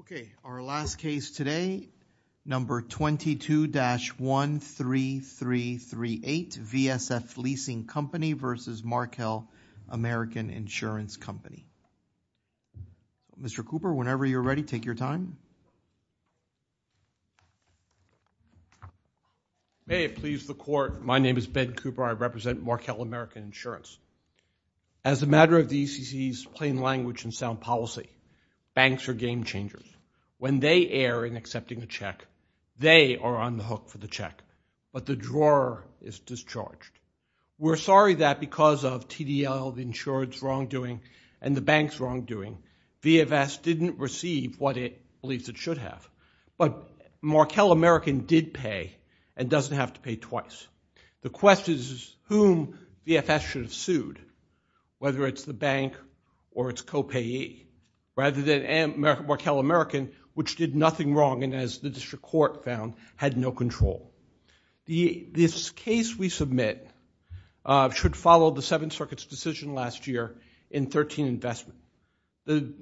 Okay, our last case today. Number 22-13338, VSF Leasing Company versus Markel American Insurance Company. Mr. Cooper, whenever you're ready, take your time. May it please the court, my name is Ben Cooper. I represent Markel American Insurance. As a matter of the ECC's plain language and sound policy, banks are game changers. When they err in accepting a check, they are on the hook for the check, but the drawer is discharged. We're sorry that because of TDL, the insurance wrongdoing, and the bank's wrongdoing, VFS didn't receive what it believes it should have. But Markel American did pay and doesn't have to pay twice. The question is whom VFS should have sued, whether it's the bank or its co-payee, rather than Markel American, which did nothing wrong and, as the district court found, had no control. This case we submit should follow the Seventh Circuit's decision last year in 13-investment. The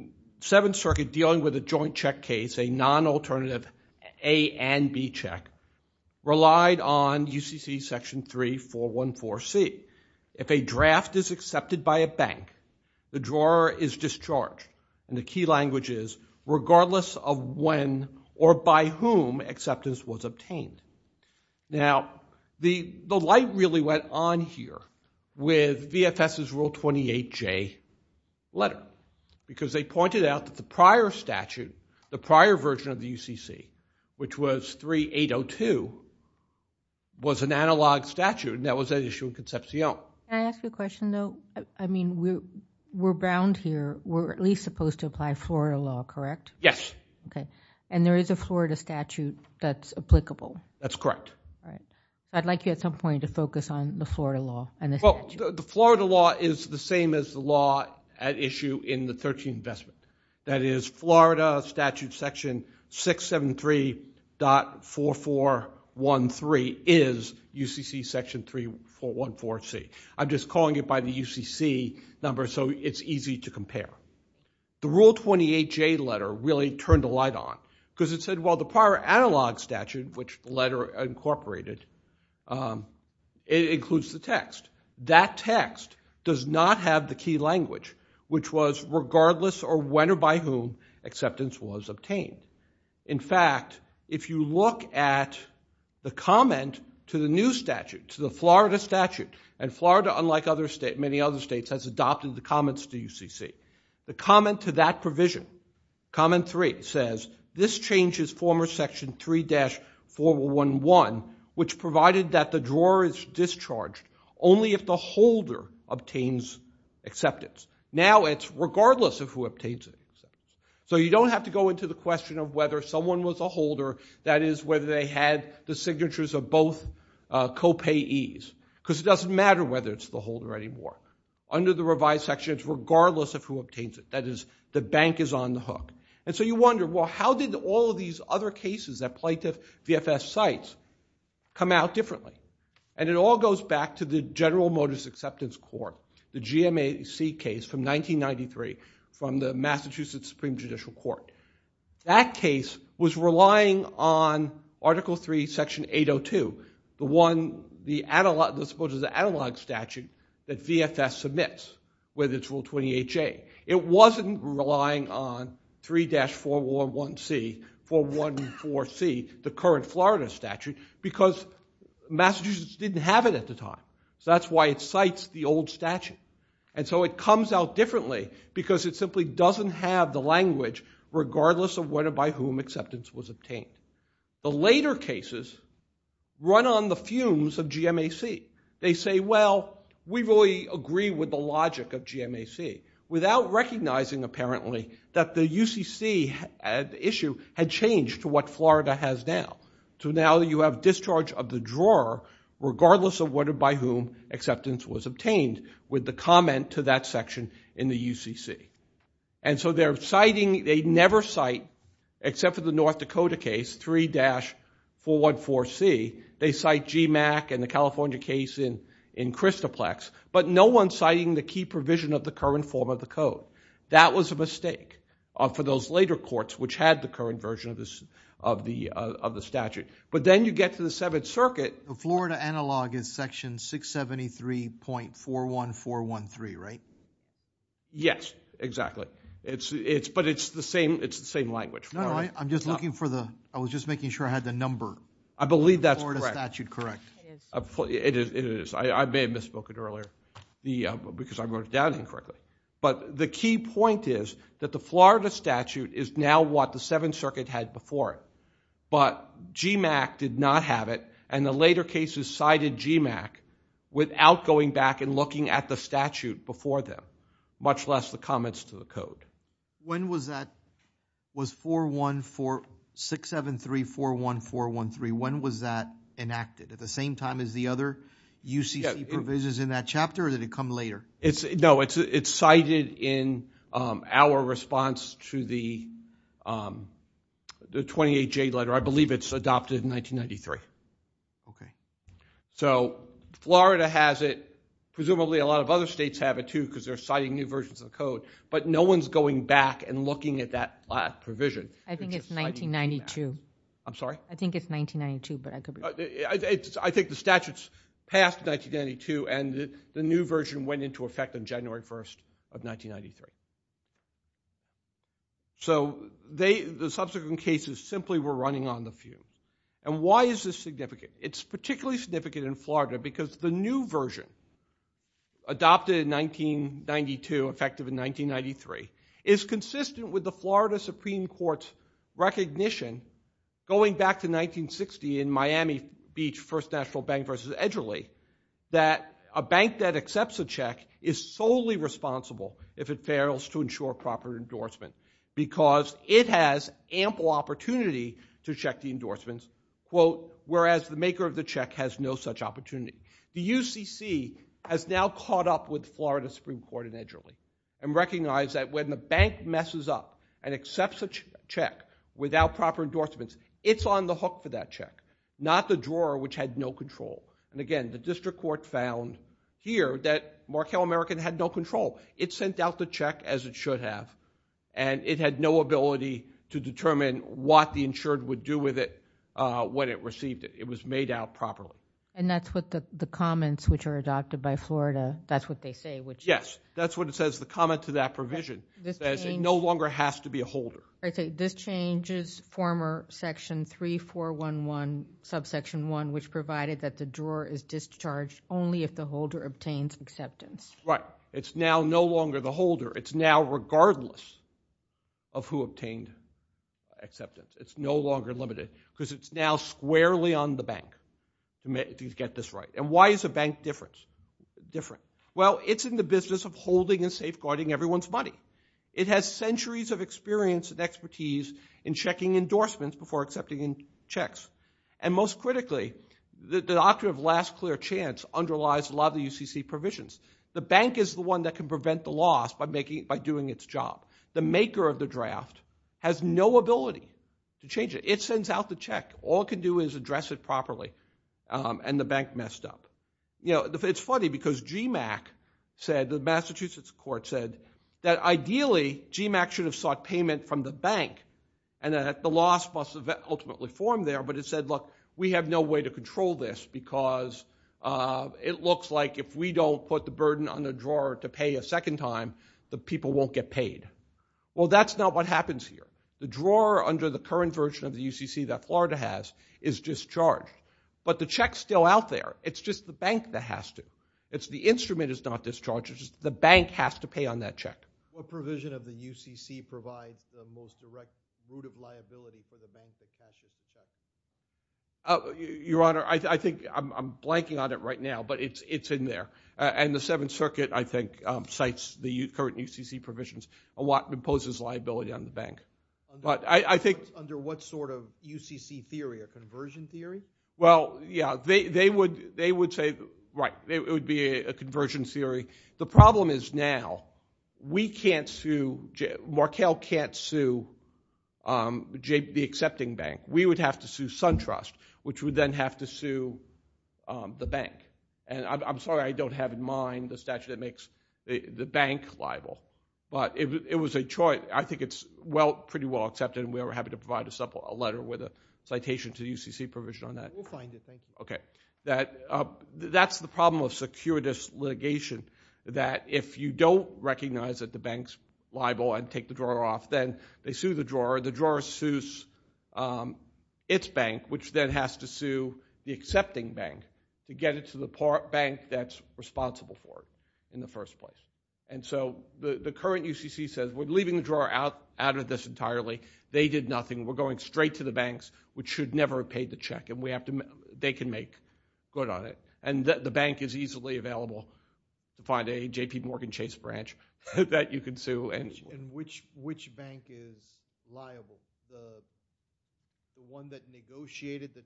Seventh Circuit, dealing with a joint check case, a non-alternative A and B check, relied on UCC section 3414C. If a draft is accepted, regardless of when or by whom acceptance was obtained. Now, the light really went on here with VFS's Rule 28J letter, because they pointed out that the prior statute, the prior version of the UCC, which was 3802, was an analog statute and that was at issue in Concepcion. Can I ask you a question, though? I mean, we're bound here. We're at least supposed to apply floral law, correct? Yes. Okay, and there is a Florida statute that's applicable? That's correct. I'd like you, at some point, to focus on the Florida law and the statute. The Florida law is the same as the law at issue in the 13-investment. That is, Florida statute section 673.4413 is UCC section 3414C. I'm just calling it by the UCC number so it's easy to compare. The Rule 28J letter really turned the light on, because it said, well, the prior analog statute, which the letter incorporated, it includes the text. That text does not have the key language, which was, regardless of when or by whom acceptance was obtained. In fact, if you look at the comment to the new statute, to the Florida statute, and Florida, unlike many other states, has adopted the comments to UCC. The comment to that provision, comment 3, says, this changes former section 3-4111, which provided that the drawer is discharged only if the holder obtains acceptance. Now it's regardless of who obtains it. So you don't have to go into the question of whether someone was a holder, that is, whether they had the signatures of both co-payees. Because it doesn't matter whether it's the holder anymore. Under the revised section, it's regardless of who obtains it. That is, the bank is on the hook. And so you wonder, well, how did all these other cases that plaintiff VFS cites come out differently? And it all goes back to the General Motors Acceptance Court, the GMAC case from 1993 from the Massachusetts Supreme Judicial Court. That case was relying on Article 3, Section 802, the analog statute that VFS submits with its Rule 28J. It wasn't relying on 3-411C, 414C, the current Florida statute, because Massachusetts didn't have it at the time. So that's why it cites the old statute. And so it comes out differently, because it simply doesn't have the language, regardless of whether by whom acceptance was obtained. The later cases run on the fumes of GMAC. They say, well, we really agree with the logic of GMAC, without recognizing, apparently, that the UCC issue had changed to what Florida has now. So now you have discharge of the drawer, regardless of whether by whom acceptance was obtained, with the comment to that section in the UCC. And so they're citing, they never cite, except for the North Dakota case, 3-414C, they cite GMAC and the California case in Christoplex, but no one citing the key provision of the current form of the code. That was a mistake for those later courts, which had the current version of the statute. But then you get to the Seventh Circuit. The Florida analog is section 673.41413, right? Yes, exactly. But it's the same language. No, I'm just looking for the, I was just making sure I had the number. I believe that's correct. Is the Florida statute correct? It is. It is. I may have misspoken earlier, because I wrote it down incorrectly. But the key point is that the Florida statute is now what the Seventh Circuit had before it. But GMAC did not have it. And the later cases cited GMAC without going back and looking at the statute before them, much less the comments to the code. When was that, was 414, 673-41413, when was that enacted? At the same time as the other UCC provisions in that chapter, or did it come later? No, it's cited in our response to the 28J letter. I believe it's adopted in 1993. Okay. So, Florida has it. Presumably a lot of other states have it, too, because they're citing new versions of the code. But no one's going back and looking at that provision. I think it's 1992. I'm sorry? I think it's 1992, but I could be wrong. I think the statute's passed in 1992, and the new version went into effect on January 1st of 1993. So, the subsequent cases simply were running on the few. And why is this significant? It's particularly significant in Florida because the new version, adopted in 1992, effective in 1993, is consistent with the Florida Supreme Court's recognition, going back to 1960 in Miami Beach First National Bank versus Edgerly, that a bank that accepts a check is solely responsible if it fails to ensure proper endorsement because it has ample opportunity to check the endorsements, quote, whereas the maker of the check has no such opportunity. The UCC has now caught up with Florida Supreme Court in Edgerly and recognized that when the bank messes up and accepts a check without proper endorsements, it's on the hook for that check, not the drawer, which had no control. And again, the district court found here that Markel American had no control. It sent out the check as it should have, and it had no ability to determine what the insured would do with it when it received it. It was made out properly. And that's what the comments, which are adopted by Florida, that's what they say? Yes, that's what it says. The comment to that provision says it no longer has to be a holder. This changes former section 3411, subsection 1, which provided that the drawer is discharged only if the holder obtains acceptance. Right. It's now no longer the holder. It's now regardless of who obtained acceptance. It's no longer limited because it's now squarely on the bank to get this right. And why is a bank different? Well, it's in the business of holding and safeguarding everyone's money. It has centuries of experience and expertise in checking endorsements before accepting checks. And most critically, the doctrine of last clear chance underlies a lot of the UCC provisions. The bank is the one that can prevent the loss by doing its job. The maker of the draft has no ability to change it. It sends out the check. All it can do is address it properly, and the bank messed up. It's funny because GMAC said, the Massachusetts court said, that ideally GMAC should have sought payment from the bank, and that the loss must have ultimately formed there. But it said, look, we have no way to control this because it looks like if we don't put the burden on the drawer to pay a second time, the people won't get paid. Well, that's not what happens here. The drawer under the current version of the UCC that Florida has is discharged. But the check's still out there. It's just the bank that has to. The instrument is not discharged. It's just the bank has to pay on that check. What provision of the UCC provides the most direct route of liability for the bank that cashes the check? Your Honor, I think I'm blanking on it right now, but it's in there. And the Seventh Circuit, I think, cites the current UCC provisions and what imposes liability on the bank. Under what sort of UCC theory, a conversion theory? Well, yeah, they would say, right, it would be a conversion theory. The problem is now we can't sue, Markell can't sue the accepting bank. We would have to sue SunTrust, which would then have to sue the bank. And I'm sorry I don't have in mind the statute that makes the bank liable. But it was a choice. I think it's pretty well accepted, and we are happy to provide a letter with a citation to the UCC provision on that. We'll find it, thank you. Okay. That's the problem with securities litigation, that if you don't recognize that the bank's liable and take the drawer off, then they sue the drawer. The drawer sues its bank, which then has to sue the accepting bank to get it to the bank that's responsible for it in the first place. And so the current UCC says we're leaving the drawer out of this entirely. They did nothing. We're going straight to the banks, which should never have paid the check, and they can make good on it. And the bank is easily available to find a JPMorgan Chase branch that you can sue. And which bank is liable? The one that negotiated the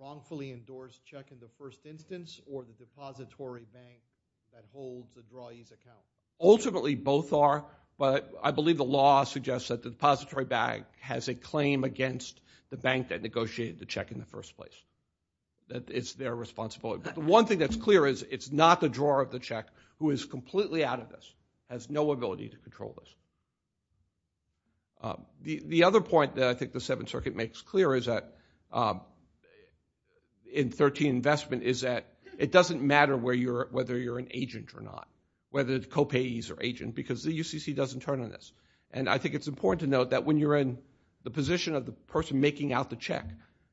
wrongfully endorsed check in the first instance or the depository bank that holds the drawee's account? Ultimately, both are, but I believe the law suggests that the depository bank has a claim against the bank that negotiated the check in the first place. It's their responsibility. But the one thing that's clear is it's not the drawer of the check who is completely out of this, has no ability to control this. The other point that I think the Seventh Circuit makes clear in 13 investment is that it doesn't matter whether you're an agent or not, whether it's co-payees or agent, because the UCC doesn't turn on this. And I think it's important to note that when you're in the position of the person making out the check,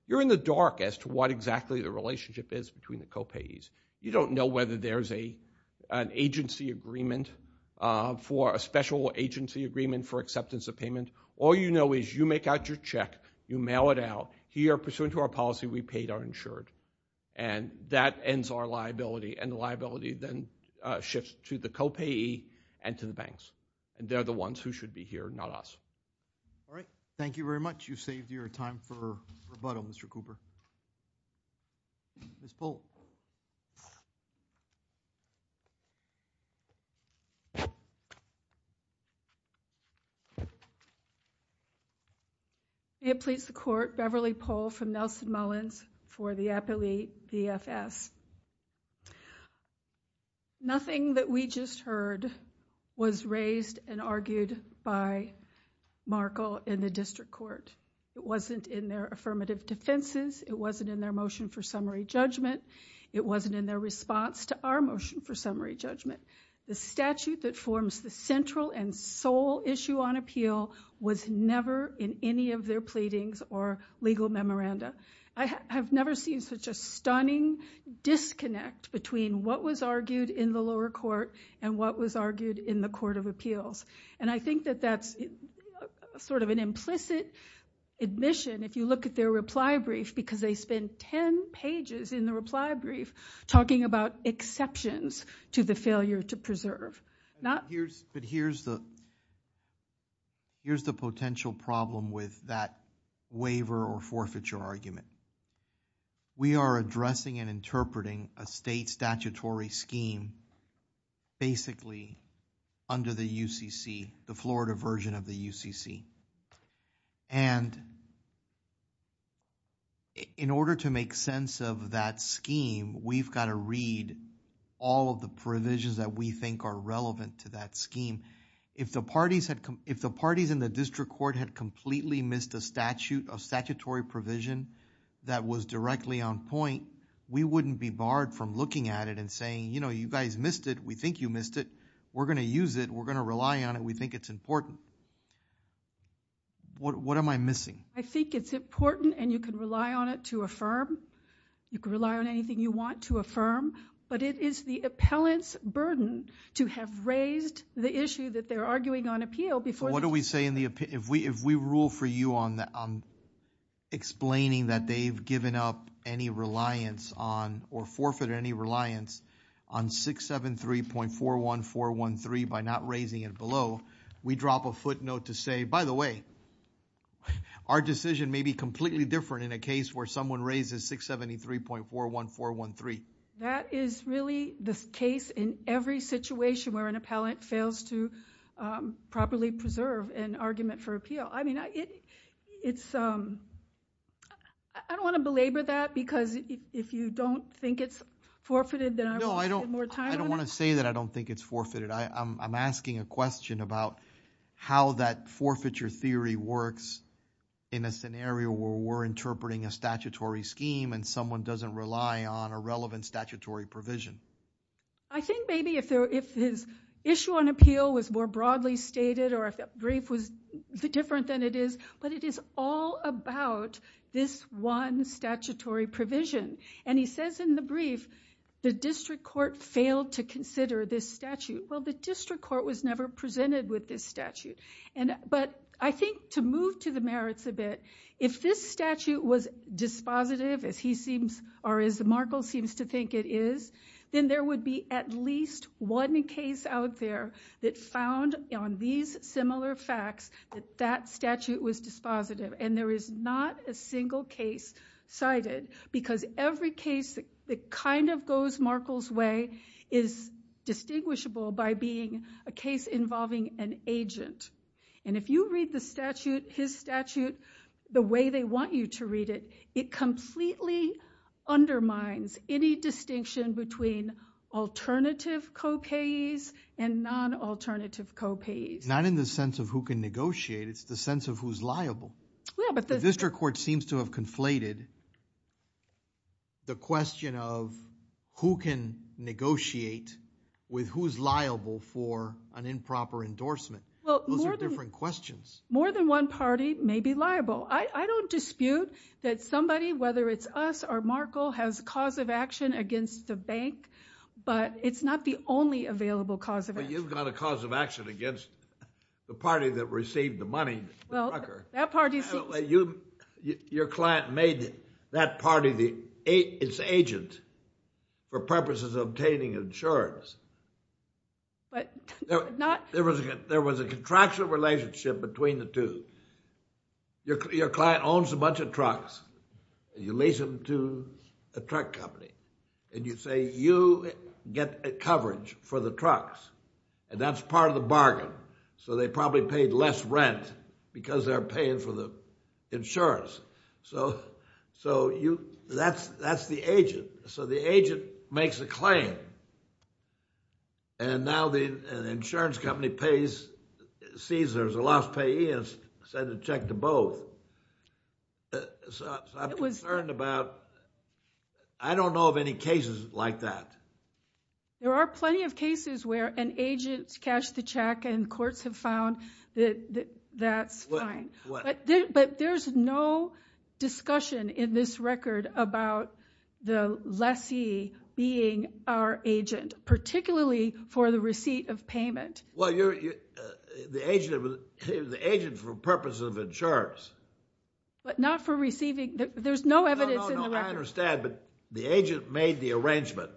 you're in the dark as to what exactly the relationship is between the co-payees. You don't know whether there's an agency agreement for a special agency agreement for acceptance of payment. All you know is you make out your check, you mail it out, here, pursuant to our policy, we paid our insured. And that ends our liability. And the liability then shifts to the co-payee and to the banks. And they're the ones who should be here, not us. All right. Thank you very much. You've saved your time for rebuttal, Mr. Cooper. Ms. Pohl. May it please the Court, Beverly Pohl from Nelson Mullins for the Appellate VFS. Nothing that we just heard was raised and argued by Markel in the District Court. It wasn't in their affirmative defenses. It wasn't in their motion for summary judgment. It wasn't in their response to our motion for summary judgment. The statute that forms the central and sole issue on appeal was never in any of their pleadings or legal memoranda. I have never seen such a stunning disconnect between what was argued in the lower court and what was argued in the Court of Appeals. And I think that that's sort of an implicit admission, if you look at their reply brief, because they spend 10 pages in the reply brief talking about exceptions to the failure to preserve. But here's the potential problem with that waiver or forfeiture argument. We are addressing and interpreting a state statutory scheme basically under the UCC, the Florida version of the UCC. And in order to make sense of that scheme, we've got to read all of the provisions that we think are relevant to that scheme. If the parties in the District Court had completely missed a statutory provision that was directly on point, we wouldn't be barred from looking at it and saying, you know, you guys missed it. We think you missed it. We're going to use it. We're going to rely on it. We think it's important. What am I missing? I think it's important and you can rely on it to affirm. You can rely on anything you want to affirm. But it is the appellant's burden to have raised the issue that they're arguing on appeal before. What do we say in the appeal? If we rule for you on explaining that they've given up any reliance on or forfeited any reliance on 673.41413 by not raising it below, we drop a footnote to say, by the way, our decision may be completely different in a case where someone raises 673.41413. That is really the case in every situation where an appellant fails to properly preserve an argument for appeal. I don't want to belabor that because if you don't think it's forfeited, then I won't spend more time on it. I don't want to say that I don't think it's forfeited. I'm asking a question about how that forfeiture theory works in a scenario where we're interpreting a statutory scheme and someone doesn't rely on a relevant statutory provision. I think maybe if his issue on appeal was more broadly stated or if the brief was different than it is, but it is all about this one statutory provision. He says in the brief, the district court failed to consider this statute. Well, the district court was never presented with this statute. I think to move to the merits a bit, if this statute was dispositive, as Markle seems to think it is, then there would be at least one case out there that found on these similar facts that that statute was dispositive. There is not a single case cited because every case that kind of goes Markle's way is distinguishable by being a case involving an agent. If you read the statute, his statute, the way they want you to read it, it completely undermines any distinction between alternative co-payees and non-alternative co-payees. Not in the sense of who can negotiate. It's the sense of who's liable. The district court seems to have conflated the question of who can negotiate with who's liable for an improper endorsement. Those are different questions. More than one party may be liable. I don't dispute that somebody, whether it's us or Markle, has cause of action against the bank, but it's not the only available cause of action. But you've got a cause of action against the party that received the money, the trucker. Your client made that party its agent for purposes of obtaining insurance. There was a contractual relationship between the two. Your client owns a bunch of trucks. You lease them to a truck company, and you say you get coverage for the trucks, and that's part of the bargain. So they probably paid less rent because they're paying for the insurance. So that's the agent. So the agent makes a claim, and now the insurance company sees there's a loss payee and sends a check to both. So I'm concerned about, I don't know of any cases like that. There are plenty of cases where an agent's cashed the check and courts have found that that's fine. But there's no discussion in this record about the lessee being our agent, particularly for the receipt of payment. Well, the agent for purposes of insurance. But not for receiving. There's no evidence in the record. No, no, I understand, but the agent made the arrangement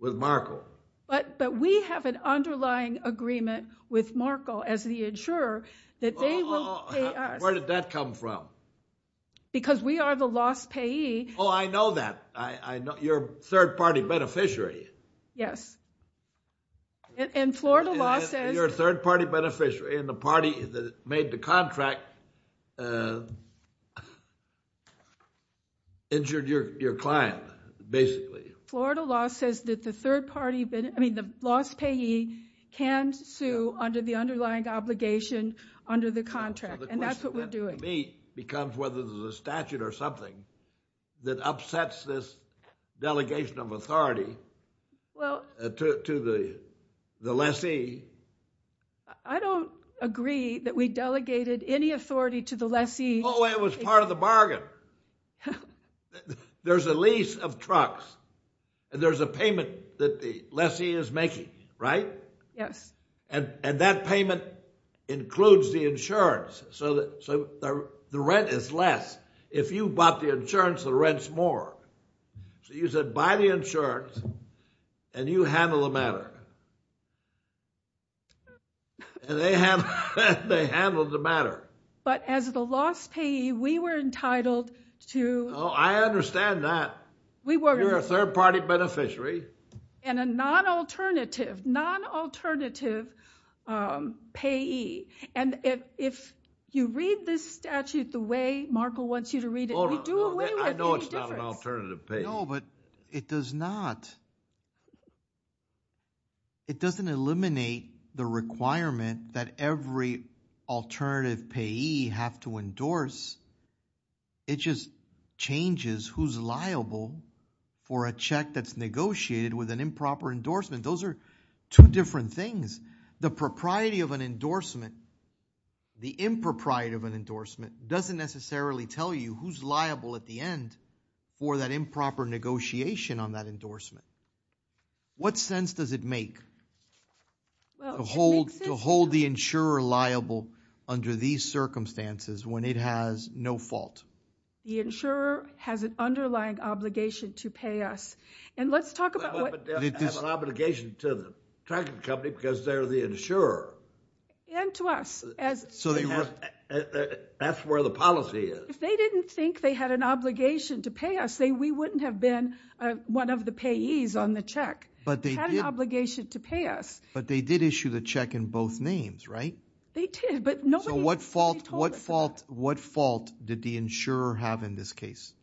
with Markle. But we have an underlying agreement with Markle as the insurer that they will pay us. Where did that come from? Because we are the loss payee. Oh, I know that. You're a third-party beneficiary. Yes. And Florida law says. You're a third-party beneficiary, and the party that made the contract injured your client, basically. Florida law says that the third party, I mean, the loss payee can sue under the underlying obligation under the contract, and that's what we're doing. The question to me becomes whether there's a statute or something that upsets this delegation of authority to the lessee. I don't agree that we delegated any authority to the lessee. Oh, it was part of the bargain. There's a lease of trucks, and there's a payment that the lessee is making, right? Yes. And that payment includes the insurance, so the rent is less. If you bought the insurance, the rent's more. So you said buy the insurance, and you handle the matter. And they handled the matter. But as the loss payee, we were entitled to. Oh, I understand that. You're a third-party beneficiary. And a non-alternative payee. And if you read this statute the way Markle wants you to read it, we do away with any difference. I know it's not an alternative payee. No, but it doesn't eliminate the requirement that every alternative payee have to endorse. It just changes who's liable for a check that's negotiated with an improper endorsement. Those are two different things. The propriety of an endorsement, the impropriety of an endorsement, doesn't necessarily tell you who's liable at the end for that improper negotiation on that endorsement. What sense does it make to hold the insurer liable under these circumstances when it has no fault? The insurer has an underlying obligation to pay us. And let's talk about what – But they have an obligation to the tracking company because they're the insurer. And to us. So they – That's where the policy is. If they didn't think they had an obligation to pay us, we wouldn't have been one of the payees on the check. But they did – They had an obligation to pay us. But they did issue the check in both names, right? They did. But nobody told us that. So what fault did the insurer have in this case?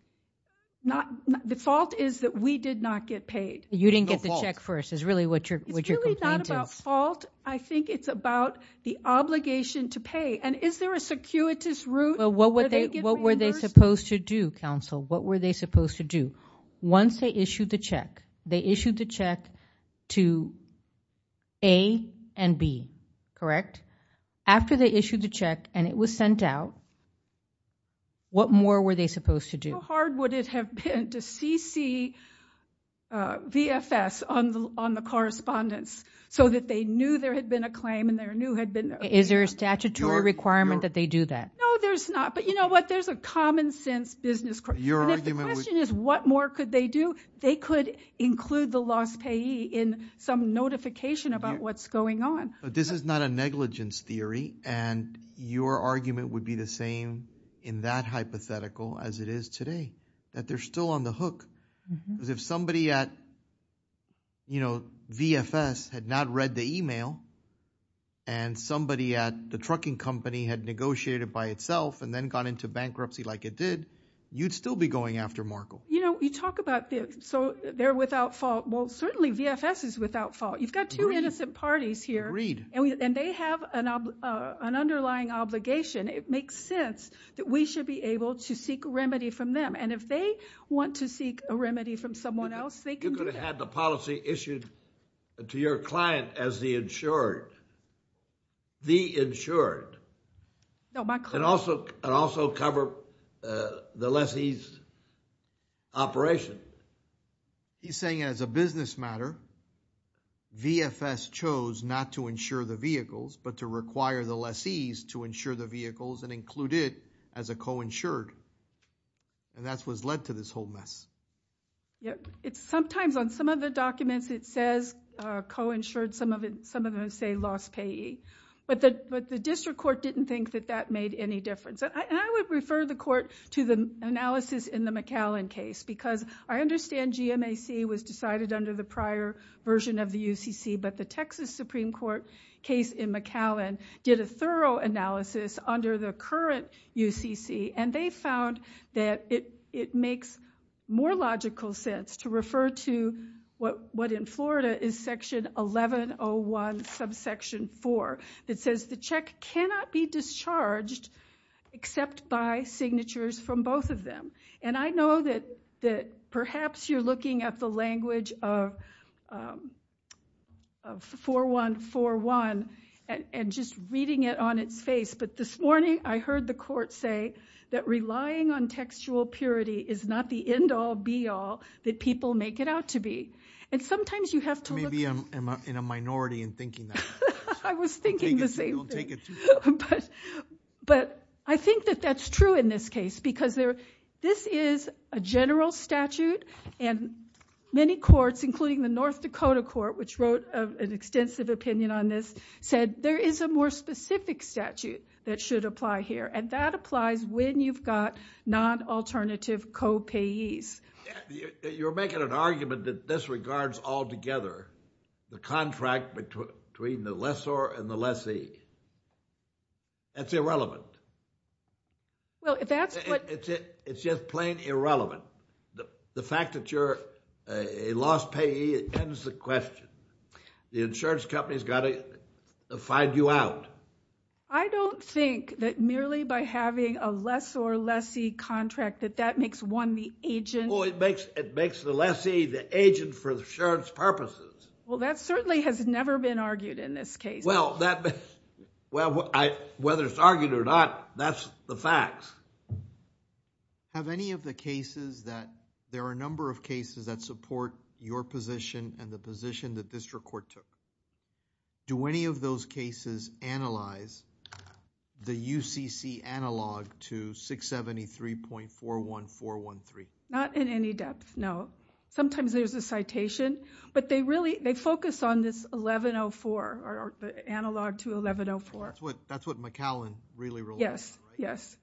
The fault is that we did not get paid. You didn't get the check first is really what your complaint is. It's really not about fault. I think it's about the obligation to pay. And is there a circuitous route? What were they supposed to do, counsel? What were they supposed to do? Once they issued the check, they issued the check to A and B, correct? After they issued the check and it was sent out, what more were they supposed to do? How hard would it have been to CC VFS on the correspondence so that they knew there had been a claim and they knew had been – Is there a statutory requirement that they do that? No, there's not. But you know what? There's a common sense business – Your argument would – And if the question is what more could they do, they could include the lost payee in some notification about what's going on. This is not a negligence theory, and your argument would be the same in that hypothetical as it is today, that they're still on the hook. Because if somebody at VFS had not read the email and somebody at the trucking company had negotiated by itself and then got into bankruptcy like it did, you'd still be going after Markle. You talk about this. So they're without fault. Well, certainly VFS is without fault. You've got two innocent parties here. Read. And they have an underlying obligation. It makes sense that we should be able to seek remedy from them. And if they want to seek a remedy from someone else, they can do that. You could have had the policy issued to your client as the insured. The insured. No, my client – And also cover the lessee's operation. He's saying as a business matter, VFS chose not to insure the vehicles but to require the lessee's to insure the vehicles and include it as a co-insured. And that's what's led to this whole mess. Sometimes on some of the documents it says co-insured. Some of them say lost payee. But the district court didn't think that that made any difference. And I would refer the court to the analysis in the McAllen case because I understand GMAC was decided under the prior version of the UCC, but the Texas Supreme Court case in McAllen did a thorough analysis under the current UCC, and they found that it makes more logical sense to refer to what in Florida is Section 1101, Subsection 4. It says the check cannot be discharged except by signatures from both of them. And I know that perhaps you're looking at the language of 4141 and just reading it on its face, but this morning I heard the court say that relying on textual purity is not the end-all be-all that people make it out to be. And sometimes you have to look – Maybe I'm in a minority in thinking that. I was thinking the same thing. Don't take it too far. But I think that that's true in this case because this is a general statute, and many courts, including the North Dakota court, which wrote an extensive opinion on this, said there is a more specific statute that should apply here, and that applies when you've got non-alternative co-payees. You're making an argument that this regards altogether the contract between the lessor and the lessee. That's irrelevant. Well, that's what – It's just plain irrelevant. The fact that you're a lost payee ends the question. The insurance company's got to find you out. I don't think that merely by having a lessor-lessee contract that that makes one the agent – Well, it makes the lessee the agent for insurance purposes. Well, that certainly has never been argued in this case. Well, whether it's argued or not, that's the facts. Have any of the cases that – There are a number of cases that support your position and the position that this court took. Do any of those cases analyze the UCC analog to 673.41413? Not in any depth, no. Sometimes there's a citation, but they focus on this 1104, or the analog to 1104. That's what McAllen really wrote. Yes, yes.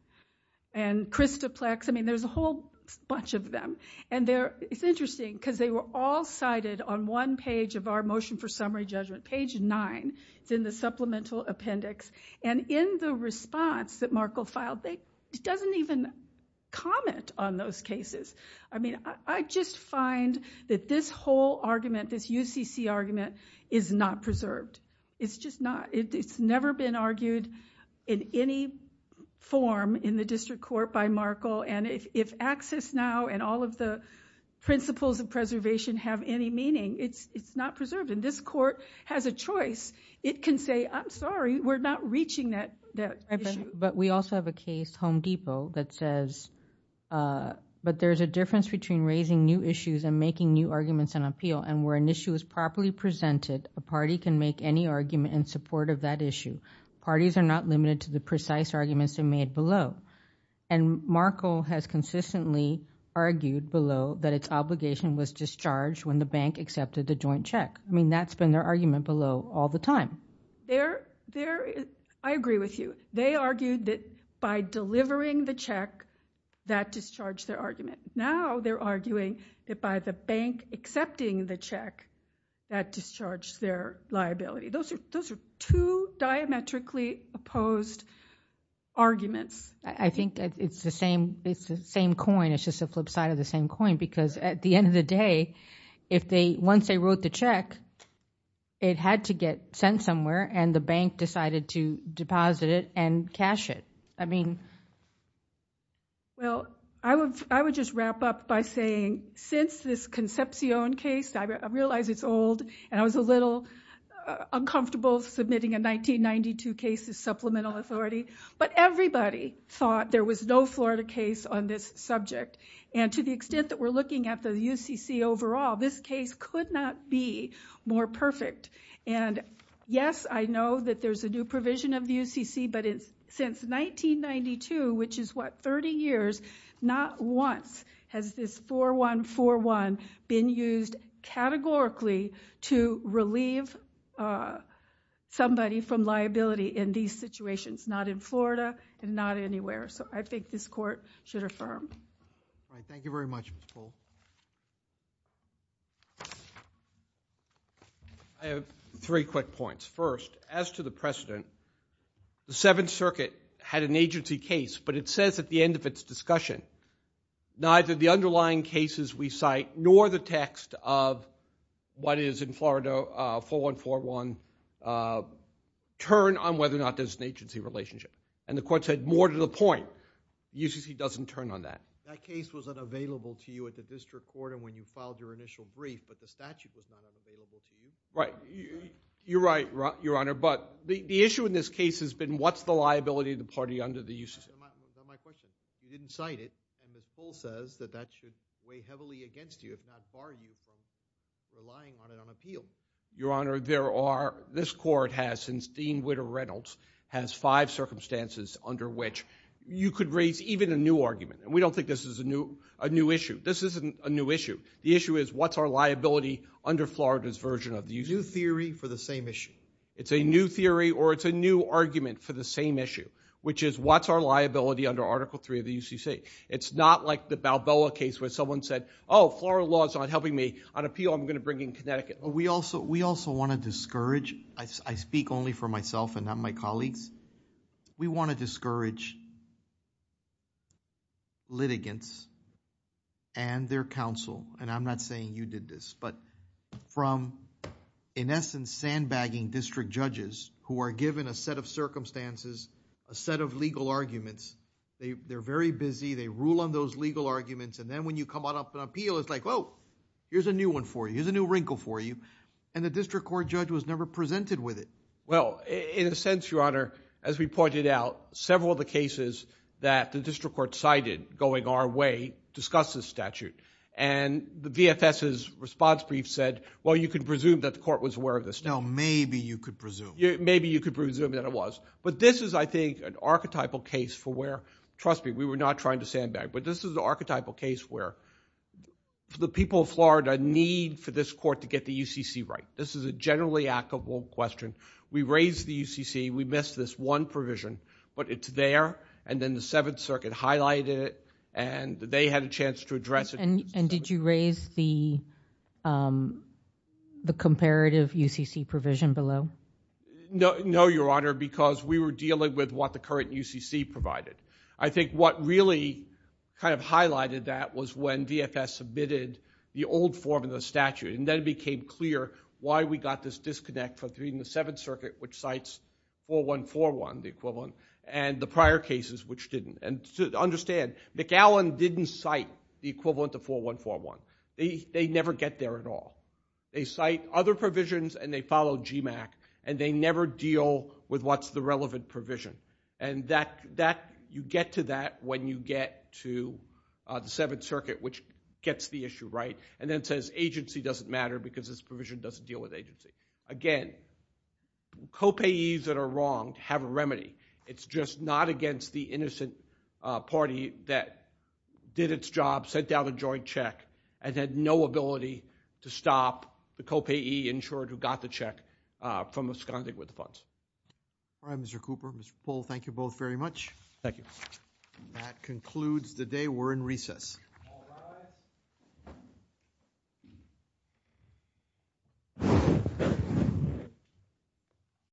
And Christoplex, I mean, there's a whole bunch of them. And it's interesting because they were all cited on one page of our motion for summary judgment, page nine. It's in the supplemental appendix. And in the response that Markle filed, it doesn't even comment on those cases. I mean, I just find that this whole argument, this UCC argument, is not preserved. It's just not. It's never been argued in any form in the district court by Markle. And if access now and all of the principles of preservation have any meaning, it's not preserved. And this court has a choice. It can say, I'm sorry, we're not reaching that issue. But we also have a case, Home Depot, that says, but there's a difference between raising new issues and making new arguments and appeal. And where an issue is properly presented, a party can make any argument in support of that issue. Parties are not limited to the precise arguments they made below. And Markle has consistently argued below that its obligation was discharged when the bank accepted the joint check. I mean, that's been their argument below all the time. I agree with you. They argued that by delivering the check, that discharged their argument. Now they're arguing that by the bank accepting the check, that discharged their liability. Those are two diametrically opposed arguments. I think it's the same coin. It's just a flip side of the same coin. Because at the end of the day, once they wrote the check, it had to get sent somewhere, and the bank decided to deposit it and cash it. I mean... Well, I would just wrap up by saying, since this Concepcion case, I realize it's old, and I was a little uncomfortable submitting a 1992 case as supplemental authority, but everybody thought there was no Florida case on this subject. And to the extent that we're looking at the UCC overall, this case could not be more perfect. And yes, I know that there's a new provision of the UCC, but since 1992, which is, what, 30 years, not once has this 4141 been used categorically to relieve somebody from liability in these situations. Not in Florida, and not anywhere. So I think this court should affirm. Thank you very much, Ms. Cole. I have three quick points. First, as to the precedent, the Seventh Circuit had an agency case, but it says at the end of its discussion, neither the underlying cases we cite nor the text of what is in Florida 4141 turn on whether or not there's an agency relationship. And the court said, more to the point. UCC doesn't turn on that. That case was unavailable to you at the district court and when you filed your initial brief, but the statute was not available to you? Right. You're right, Your Honor. But the issue in this case has been what's the liability of the party under the UCC? That's not my question. You didn't cite it. And Ms. Cole says that that should weigh heavily against you, if not bar you from relying on it on appeal. Your Honor, there are... This court has, since Dean Whitter Reynolds, has five circumstances under which you could raise even a new argument. We don't think this is a new issue. This isn't a new issue. The issue is what's our liability under Florida's version of the UCC? A new theory for the same issue. It's a new theory or it's a new argument for the same issue, which is what's our liability under Article 3 of the UCC? It's not like the Balboa case where someone said, oh, Florida law's not helping me on appeal, I'm going to bring in Connecticut. We also want to discourage... I speak only for myself and not my colleagues. We want to discourage litigants and their counsel, and I'm not saying you did this, but from, in essence, sandbagging district judges who are given a set of circumstances, a set of legal arguments. They're very busy, they rule on those legal arguments, and then when you come on up on appeal, it's like, whoa, here's a new one for you, here's a new wrinkle for you, and the district court judge was never presented with it. Well, in a sense, Your Honor, as we pointed out, several of the cases that the district court cited going our way discuss this statute, and the VFS's response brief said, well, you can presume that the court was aware of this. No, maybe you could presume. Maybe you could presume that it was, but this is, I think, an archetypal case for where... Trust me, we were not trying to sandbag, but this is an archetypal case where the people of Florida need for this court to get the UCC right. This is a generally applicable question. We raised the UCC, we missed this one provision, but it's there, and then the Seventh Circuit highlighted it, and they had a chance to address it. And did you raise the comparative UCC provision below? No, Your Honor, because we were dealing with what the current UCC provided. I think what really kind of highlighted that was when VFS submitted the old form of the statute, and then it became clear why we got this disconnect between the Seventh Circuit, which cites 4141, the equivalent, and the prior cases, which didn't. And understand, McAllen didn't cite the equivalent of 4141. They never get there at all. They cite other provisions, and they follow GMAC, and they never deal with what's the relevant provision. And you get to that when you get to the Seventh Circuit, which gets the issue right, and then says agency doesn't matter because this provision doesn't deal with agency. Again, co-payees that are wrong have a remedy. It's just not against the innocent party that did its job, sent out a joint check, and had no ability to stop the co-payee insured who got the check from esconding with the funds. All right, Mr. Cooper, Mr. Pohl, thank you both very much. Thank you. That concludes the day. We're in recess. All rise.